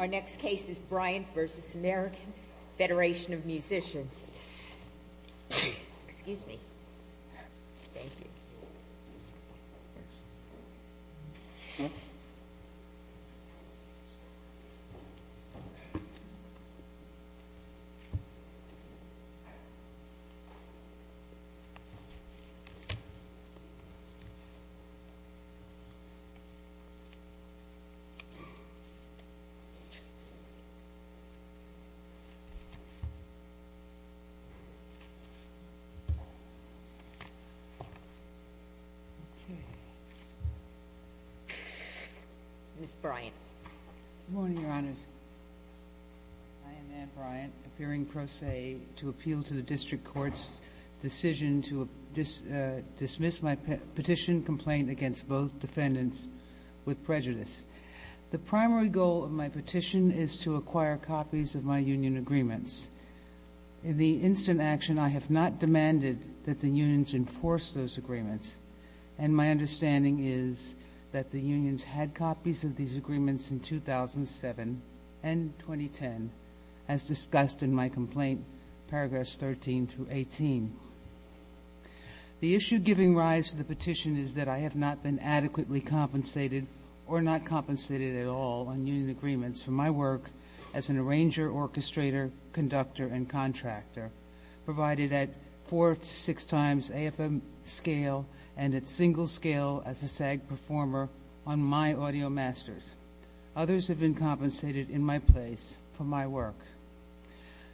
Our next case is Bryant v. American Federation of Musicians. Ann Bryant appearing pro se to appeal to the District Court's decision to dismiss my petition complaint against both defendants with prejudice. The primary goal of my petition is to acquire copies of my union agreements. In the instant action, I have not demanded that the unions enforce those agreements, and my understanding is that the unions had copies of these agreements in 2007 and 2010, as discussed in my complaint, paragraphs 13 through 18. The issue giving rise to the petition is that I have not been adequately compensated or not compensated at all on union agreements for my work as an arranger, orchestrator, conductor, and contractor, provided at four to six times AFM scale and at single scale as a SAG performer on my audio masters. Others have been compensated in my place for my work.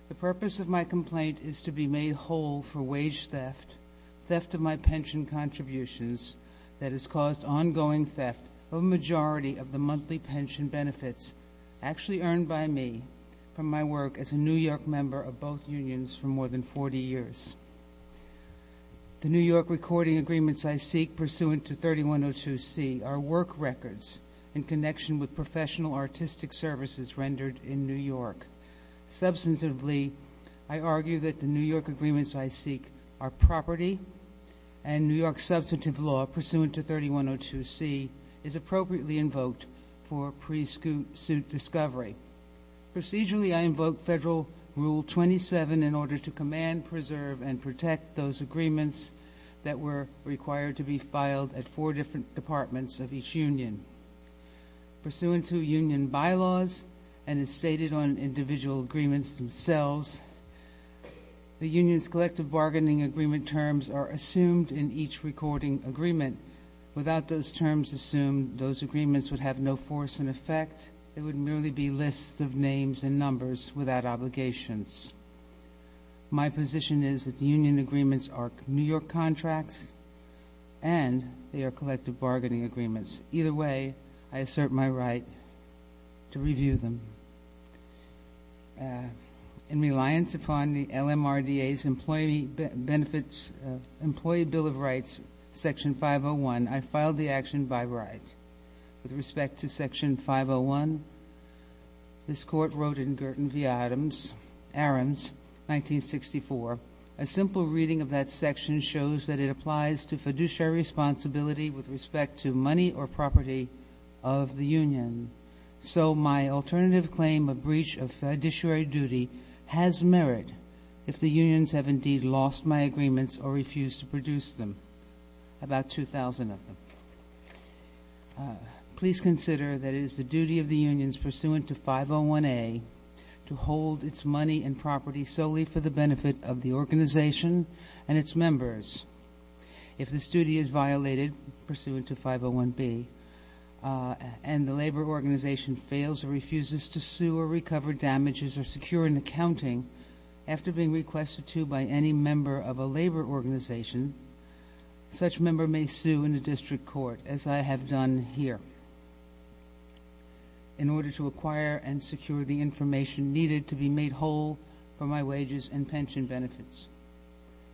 The purpose of my complaint is to be made whole for wage theft, theft of my pension contributions that has caused ongoing theft of a majority of the monthly pension benefits actually earned by me from my work as a New York member of both unions for more than 40 years. The New York recording agreements I seek pursuant to 3102C are work records in connection with professional artistic services rendered in New York. Substantively, I argue that the New York agreements I seek are property, and New York substantive law pursuant to 3102C is appropriately invoked for pre-suit discovery. Procedurally, I invoke Federal Rule 27 in order to command, preserve, and protect those agreements that were required to be filed at four different departments of each union. Pursuant to union bylaws and as stated on individual agreements themselves, the union's collective bargaining agreement terms are assumed in each recording agreement. Without those terms assumed, those agreements would have no force and effect. It would merely be lists of names and numbers without obligations. My position is that the union agreements are New York contracts and they are collective bargaining agreements. Either way, I assert my right to review them. In reliance upon the LMRDA's Employee Bill of Rights, Section 501, I filed the action by right. With respect to Section 501, this Court wrote in Girton v. Adams, Arams, 1964, a simple reading of that section shows that it applies to fiduciary responsibility with respect to money or property of the union. So my alternative claim of breach of fiduciary duty has merit if the unions have indeed lost my agreements or refused to produce them, about 2,000 of them. Please consider that it is the duty of the unions pursuant to 501A to hold its money and property solely for the benefit of the organization and its members. If this duty is violated, pursuant to 501B, and the labor organization fails or refuses to sue or recover damages or secure an accounting after being requested to by any member of a labor organization, such member may sue in a district court, as I have done here, in order to acquire and secure the information needed to be made whole for my wages and pension benefits.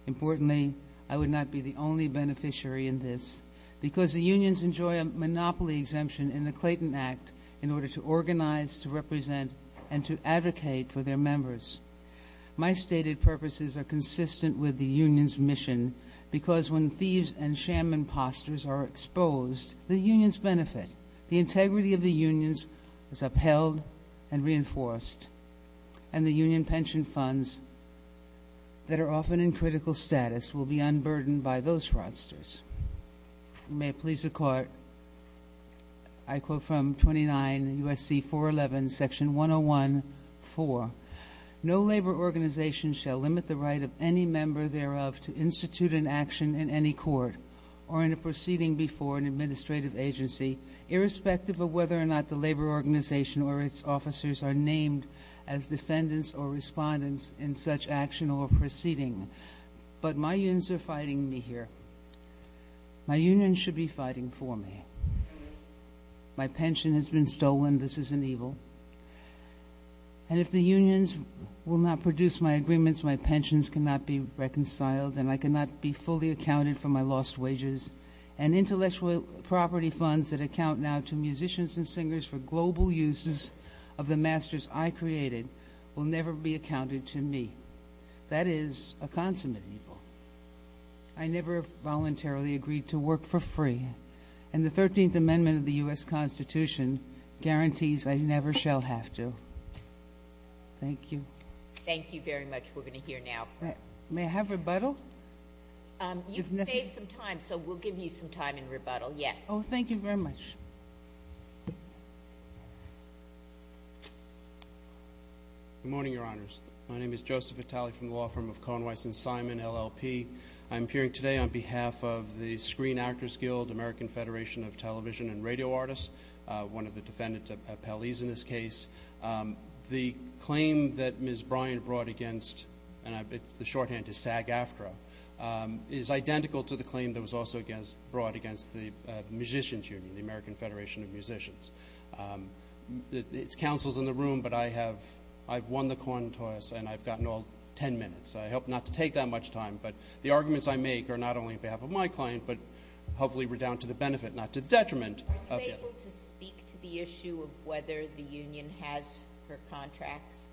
Importantly, I would not be the only beneficiary in this, because the unions enjoy a monopoly exemption in the Clayton Act in order to organize, to represent, and to advocate for their members. My stated purposes are consistent with the union's mission, because when thieves and sham imposters are exposed, the unions benefit. The integrity of the unions is upheld and reinforced, and the union pension funds that are often in critical status will be unburdened by those fraudsters. May it please the Court, I quote from 29 U.S.C. 411, Section 101.4. No labor organization shall limit the right of any member thereof to institute an action in any court or in a proceeding before an administrative agency, irrespective of whether or not the labor organization or its officers are named as defendants or respondents in such action or proceeding. But my unions are fighting me here. My unions should be fighting for me. My pension has been stolen. This isn't evil. And if the unions will not produce my agreements, my pensions cannot be reconciled, and I cannot be fully accounted for my lost wages. And intellectual property funds that account now to musicians and singers for global uses of the masters I created will never be accounted to me. That is a consummate evil. I never voluntarily agreed to work for free, and the 13th Amendment of the U.S. Constitution guarantees I never shall have to. Thank you. Thank you very much. We're going to hear now from you. May I have rebuttal? You've saved some time, so we'll give you some time in rebuttal. Yes. Oh, thank you very much. Good morning, Your Honors. My name is Joseph Vitale from the law firm of Conway & Simon, LLP. I'm appearing today on behalf of the Screen Actors Guild, American Federation of Television and Radio Artists, one of the defendants of Pele's in this case. The claim that Ms. Bryan brought against, and the shorthand is SAG-AFTRA, is identical to the claim that was also brought against the Musicians Union, the American Federation of Musicians. It's counsels in the room, but I have won the coin toss, and I've gotten all ten minutes. I hope not to take that much time, but the arguments I make are not only on behalf of my client, but hopefully we're down to the benefit, not to the detriment. Are you able to speak to the issue of whether the union has her contracts?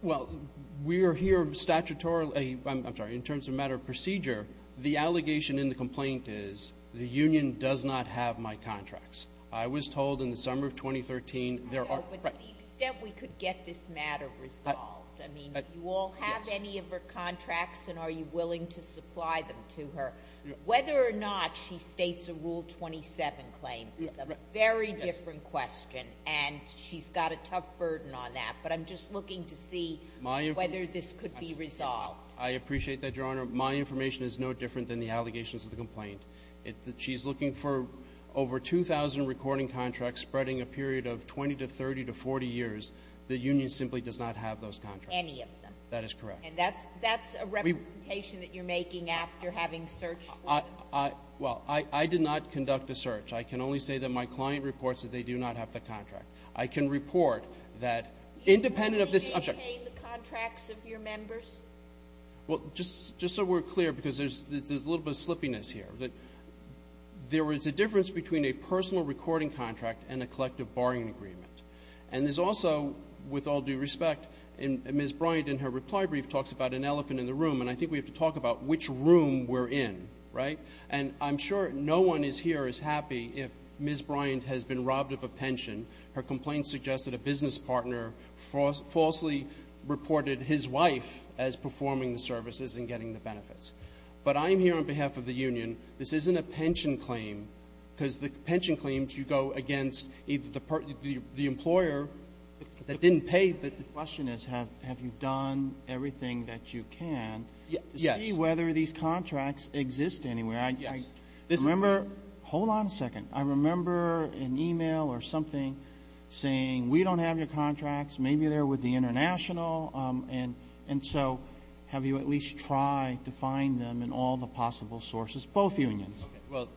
Well, we are here statutorily. I'm sorry, in terms of a matter of procedure, the allegation in the complaint is the union does not have my contracts. I was told in the summer of 2013 there are. But to the extent we could get this matter resolved. I mean, do you all have any of her contracts, and are you willing to supply them to her? Whether or not she states a Rule 27 claim is a very different question, and she's got a tough burden on that. But I'm just looking to see whether this could be resolved. I appreciate that, Your Honor. My information is no different than the allegations of the complaint. She's looking for over 2,000 recording contracts spreading a period of 20 to 30 to 40 years. The union simply does not have those contracts. Any of them? That is correct. And that's a representation that you're making after having searched for them? Well, I did not conduct a search. I can only say that my client reports that they do not have the contract. I can report that independent of this object. Do you maintain the contracts of your members? Well, just so we're clear, because there's a little bit of slippiness here, there is a difference between a personal recording contract and a collective barring agreement. And there's also, with all due respect, Ms. Bryant in her reply brief talks about an elephant in the room, and I think we have to talk about which room we're in, right? And I'm sure no one here is happy if Ms. Bryant has been robbed of a pension. Her complaint suggests that a business partner falsely reported his wife as performing the services and getting the benefits. But I'm here on behalf of the union. This isn't a pension claim because the pension claims, you go against the employer that didn't pay. The question is have you done everything that you can to see whether these contracts exist anywhere? Yes. Hold on a second. I remember an e-mail or something saying, we don't have your contracts. Maybe they're with the international. And so have you at least tried to find them in all the possible sources, both unions? Well,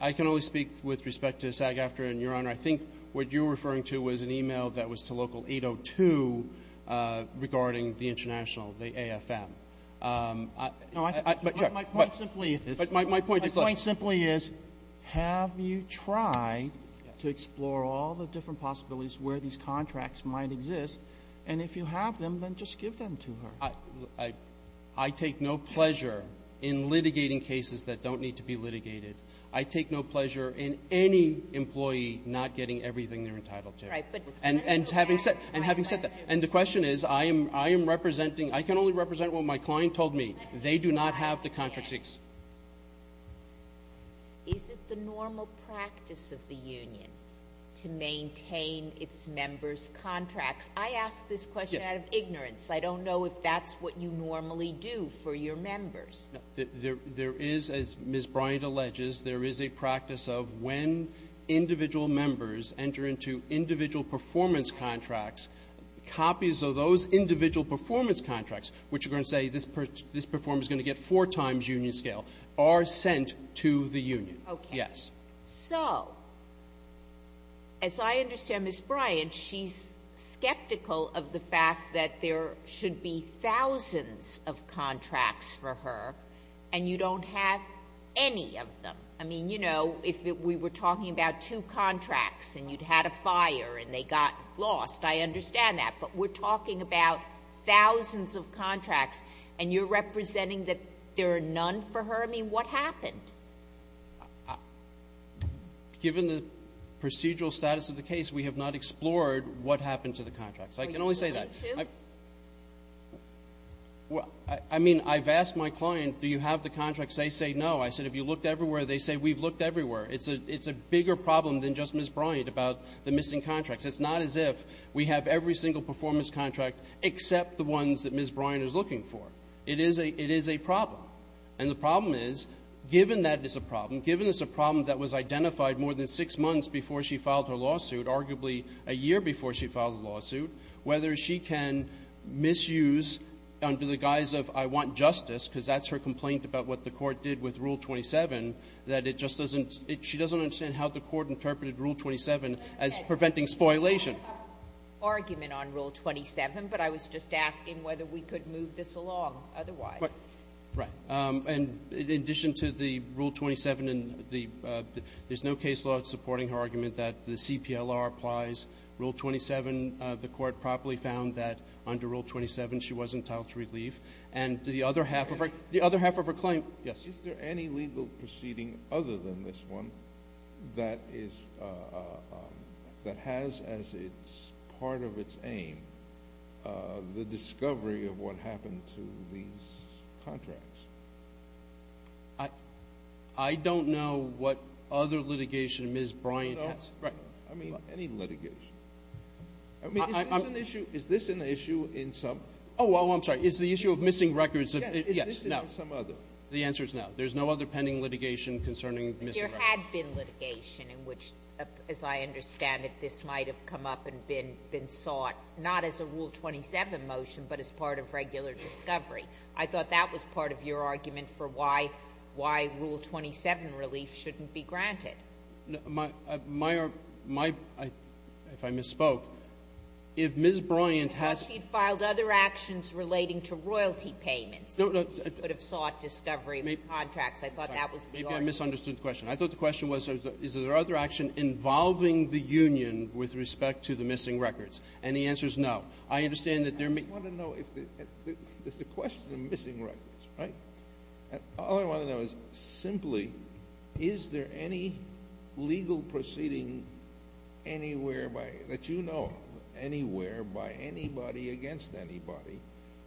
I can only speak with respect to SAG-AFTRA and your Honor. I think what you're referring to was an e-mail that was to local 802 regarding the international, the AFM. No, my point simply is. My point is. My point simply is have you tried to explore all the different possibilities where these contracts might exist? And if you have them, then just give them to her. I take no pleasure in litigating cases that don't need to be litigated. I take no pleasure in any employee not getting everything they're entitled to. And having said that, and the question is I am representing, I can only represent what my client told me. They do not have the contracts. Is it the normal practice of the union to maintain its members' contracts? I ask this question out of ignorance. I don't know if that's what you normally do for your members. There is, as Ms. Bryant alleges, there is a practice of when individual members enter into individual performance contracts, copies of those individual performance contracts, which are going to say this performer is going to get four times union scale, are sent to the union. Okay. Yes. So as I understand Ms. Bryant, she's skeptical of the fact that there should be thousands of contracts for her, and you don't have any of them. I mean, you know, if we were talking about two contracts and you had a fire and they got lost, I understand that, but we're talking about thousands of contracts, and you're representing that there are none for her? I mean, what happened? Given the procedural status of the case, we have not explored what happened to the contracts. I can only say that. Well, I mean, I've asked my client, do you have the contracts? They say no. I said, if you looked everywhere, they say we've looked everywhere. It's a bigger problem than just Ms. Bryant about the missing contracts. It's not as if we have every single performance contract except the ones that Ms. Bryant is looking for. It is a problem. And the problem is, given that it's a problem, given it's a problem that was identified more than six months before she filed her lawsuit, arguably a year before she filed her lawsuit, whether she can misuse under the guise of I want justice, because that's her complaint about what the court did with Rule 27, that it just doesn't ‑‑ I don't have an argument on Rule 27, but I was just asking whether we could move this along otherwise. Right. And in addition to the Rule 27, there's no case law supporting her argument that the CPLR applies. Rule 27, the court properly found that under Rule 27, she wasn't entitled to relief. And the other half of her claim ‑‑ Is there any legal proceeding other than this one that is ‑‑ that has as part of its aim the discovery of what happened to these contracts? I don't know what other litigation Ms. Bryant has. I mean, any litigation. I mean, is this an issue in some ‑‑ Oh, I'm sorry. Is the issue of missing records of ‑‑ Yes. Is this in some other? The answer is no. There's no other pending litigation concerning missing records. There had been litigation in which, as I understand it, this might have come up and been sought, not as a Rule 27 motion, but as part of regular discovery. I thought that was part of your argument for why Rule 27 relief shouldn't be granted. My ‑‑ if I misspoke, if Ms. Bryant has ‑‑ Because she filed other actions relating to royalty payments. No, no. I thought that was the argument. I think I misunderstood the question. I thought the question was, is there other action involving the union with respect to the missing records? And the answer is no. I understand that there may be ‑‑ I want to know if there's a question of missing records, right? All I want to know is, simply, is there any legal proceeding anywhere by ‑‑ that you know of anywhere by anybody against anybody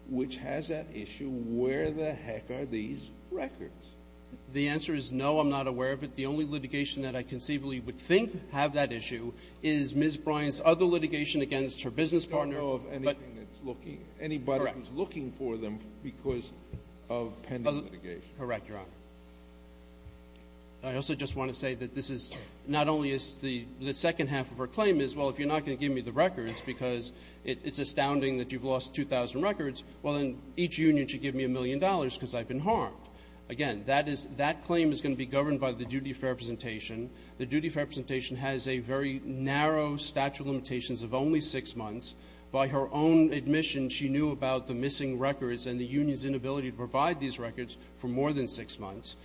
which has that issue, where the heck are these records? The answer is no. I'm not aware of it. The only litigation that I conceivably would think have that issue is Ms. Bryant's other litigation against her business partner. I don't know of anything that's looking ‑‑ Correct. Anybody who's looking for them because of pending litigation. Correct, Your Honor. I also just want to say that this is not only is the second half of her claim is, well, if you're not going to give me the records because it's astounding that you've lost 2,000 records, well, then each union should give me a million dollars because I've been harmed. Again, that claim is going to be governed by the duty of fair representation. The duty of fair representation has a very narrow statute of limitations of only six months. By her own admission, she knew about the missing records and the union's inability to provide these records for more than six months.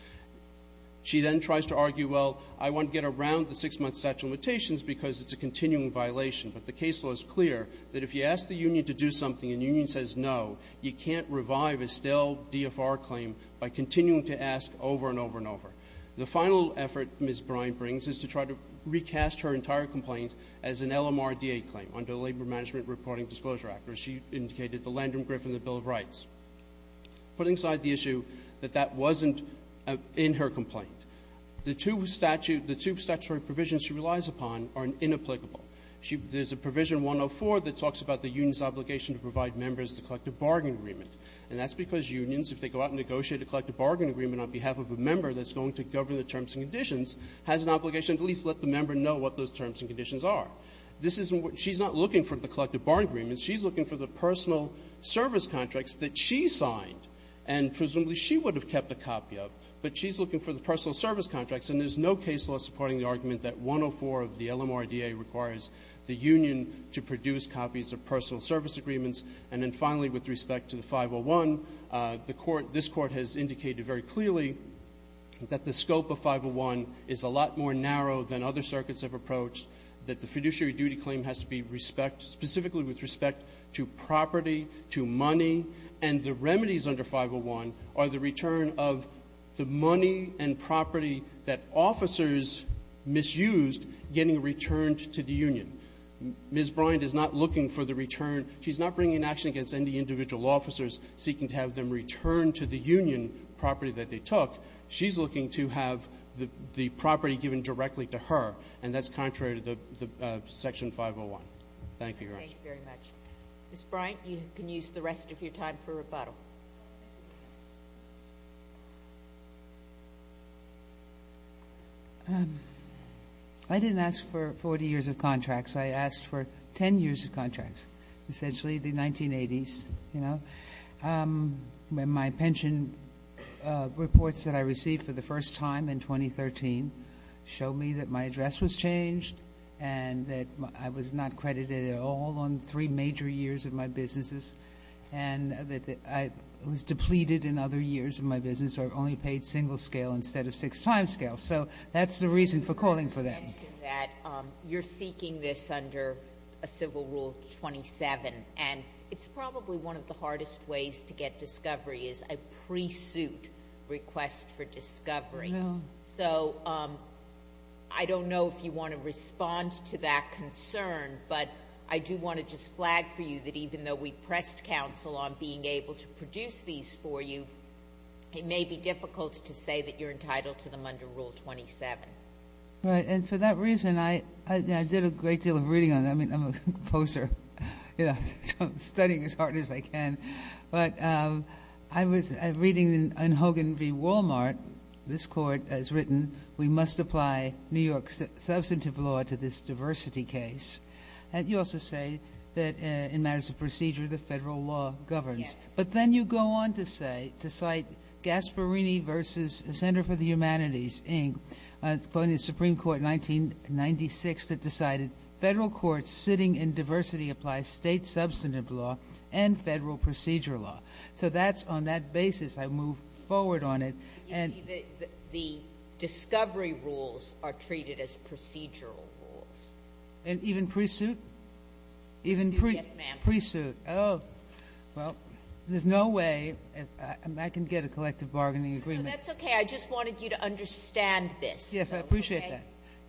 She then tries to argue, well, I want to get around the six‑month statute of limitations because it's a continuing violation. But the case law is clear that if you ask the union to do something and the union says no, you can't revive a still DFR claim by continuing to ask over and over and over. The final effort Ms. Bryant brings is to try to recast her entire complaint as an LMRDA claim under the Labor Management Reporting Disclosure Act, or as she indicated, the Landrum-Griffin Bill of Rights. Putting aside the issue that that wasn't in her complaint, the two statutory provisions she relies upon are inapplicable. There's a provision 104 that talks about the union's obligation to provide members the collective bargaining agreement, and that's because unions, if they go out and negotiate a collective bargaining agreement on behalf of a member that's going to govern the terms and conditions, has an obligation to at least let the member know what those terms and conditions are. She's not looking for the collective bargaining agreement. She's looking for the personal service contracts that she signed and presumably she would have kept a copy of, but she's looking for the personal service contracts and there's no case law supporting the argument that 104 of the LMRDA requires the union to produce copies of personal service agreements. And then finally, with respect to the 501, the court, this court has indicated very clearly that the scope of 501 is a lot more narrow than other circuits have approached, that the fiduciary duty claim has to be respect, specifically with respect to property, to money, and the remedies under 501 are the return of the money and property that officers misused getting returned to the union. Ms. Bryant is not looking for the return. She's not bringing an action against any individual officers seeking to have them return to the union property that they took. She's looking to have the property given directly to her, and that's contrary Thank you, Your Honor. Ms. Bryant, you can use the rest of your time for rebuttal. I didn't ask for 40 years of contracts. I asked for 10 years of contracts, essentially the 1980s, you know. My pension reports that I received for the first time in 2013 showed me that my address was changed and that I was not credited at all on three major years of my businesses, and that I was depleted in other years of my business, so I only paid single scale instead of six timescale. So that's the reason for calling for that. You mentioned that you're seeking this under a Civil Rule 27, and it's probably one of the hardest ways to get discovery is a pre-suit request for discovery. So I don't know if you want to respond to that concern, but I do want to just flag for you that even though we pressed counsel on being able to produce these for you, it may be difficult to say that you're entitled to them under Rule 27. Right. And for that reason, I did a great deal of reading on it. I mean, I'm a composer. I'm studying as hard as I can. But I was reading in Hogan v. Walmart, this court has written, we must apply New York substantive law to this diversity case. You also say that in matters of procedure, the federal law governs. Yes. But then you go on to say, to cite Gasparini v. Center for the Humanities, Inc., the Supreme Court in 1996 that decided federal courts sitting in diversity apply state procedural law. So that's on that basis I move forward on it. You see, the discovery rules are treated as procedural rules. And even pre-suit? Yes, ma'am. Even pre-suit. Oh, well, there's no way I can get a collective bargaining agreement. No, that's okay. I just wanted you to understand this. Yes, I appreciate that.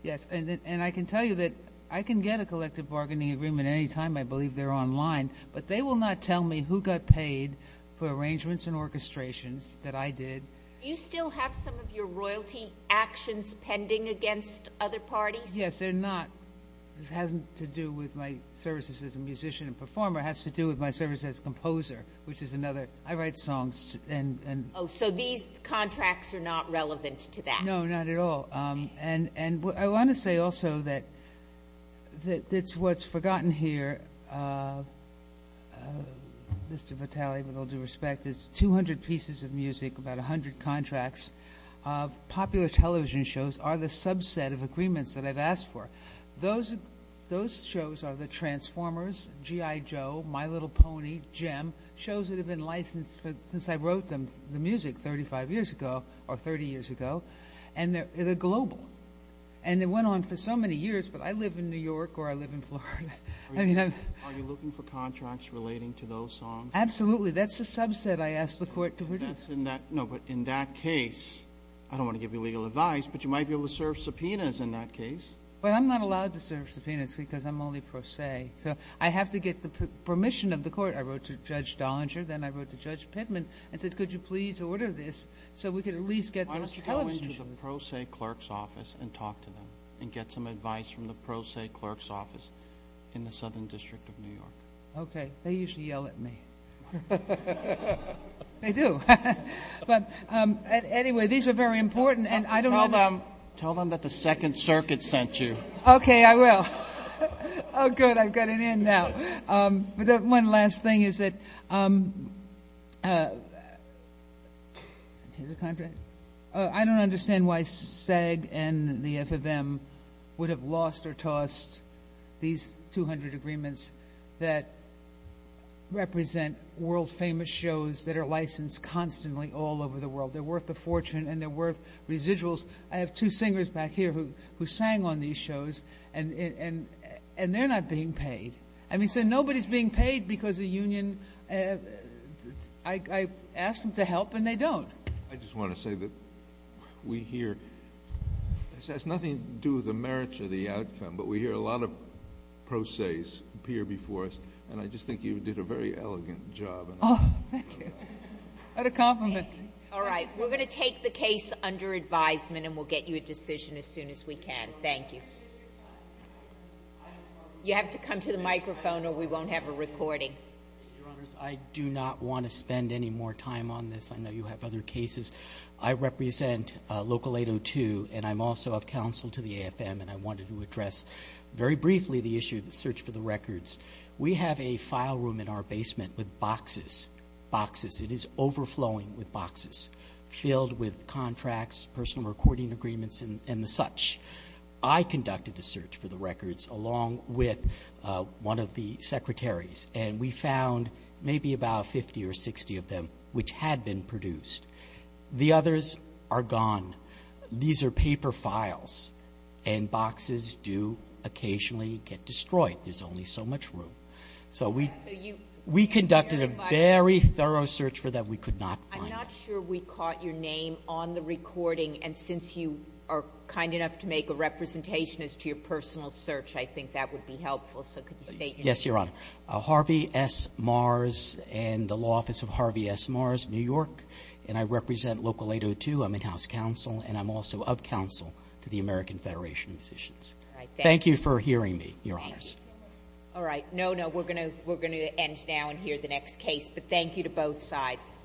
Yes. And I can tell you that I can get a collective bargaining agreement any time. I believe they're online. But they will not tell me who got paid for arrangements and orchestrations that I did. Do you still have some of your royalty actions pending against other parties? Yes, they're not. It hasn't to do with my services as a musician and performer. It has to do with my service as a composer, which is another. I write songs. Oh, so these contracts are not relevant to that. No, not at all. And I want to say also that what's forgotten here, Mr. Vitale, with all due respect, is 200 pieces of music, about 100 contracts of popular television shows are the subset of agreements that I've asked for. Those shows are the Transformers, G.I. Joe, My Little Pony, Jem, shows that have been licensed since I wrote the music 35 years ago or 30 years ago. And they're global. And they went on for so many years, but I live in New York or I live in Florida. Are you looking for contracts relating to those songs? Absolutely. That's the subset I asked the Court to produce. No, but in that case, I don't want to give you legal advice, but you might be able to serve subpoenas in that case. But I'm not allowed to serve subpoenas because I'm only pro se. So I have to get the permission of the Court. I wrote to Judge Dollinger, then I wrote to Judge Pittman and said, could you please order this so we could at least get those television shows. Why don't you go into the pro se clerk's office and talk to them and get some advice from the pro se clerk's office in the Southern District of New York? Okay. They usually yell at me. They do. But anyway, these are very important. Tell them that the Second Circuit sent you. Okay, I will. Oh, good, I've got it in now. One last thing is that I don't understand why SAG and the FFM would have lost or tossed these 200 agreements that represent world-famous shows that are licensed constantly all over the world. They're worth a fortune and they're worth residuals. I have two singers back here who sang on these shows and they're not being paid. I mean, so nobody's being paid because the union, I ask them to help and they don't. I just want to say that we hear, it has nothing to do with the merits or the outcome, but we hear a lot of pro ses appear before us, and I just think you did a very elegant job. Oh, thank you. What a compliment. All right, we're going to take the case under advisement and we'll get you a decision as soon as we can. Thank you. You have to come to the microphone or we won't have a recording. Your Honors, I do not want to spend any more time on this. I know you have other cases. I represent Local 802 and I'm also of counsel to the AFM and I wanted to address very briefly the issue of the search for the records. We have a file room in our basement with boxes, boxes. It is overflowing with boxes filled with contracts, personal recording agreements and the such. I conducted a search for the records along with one of the secretaries and we found maybe about 50 or 60 of them which had been produced. The others are gone. These are paper files and boxes do occasionally get destroyed. There's only so much room. So we conducted a very thorough search for them. We could not find them. I'm not sure we caught your name on the recording and since you are kind enough to make a representation as to your personal search, I think that would be helpful. So could you state your name? Yes, Your Honor. Harvey S. Mars in the law office of Harvey S. Mars, New York, and I represent Local 802. I'm in-house counsel and I'm also of counsel to the American Federation of Musicians. Thank you for hearing me, Your Honors. All right. No, no, we're going to end now and hear the next case. But thank you to both sides.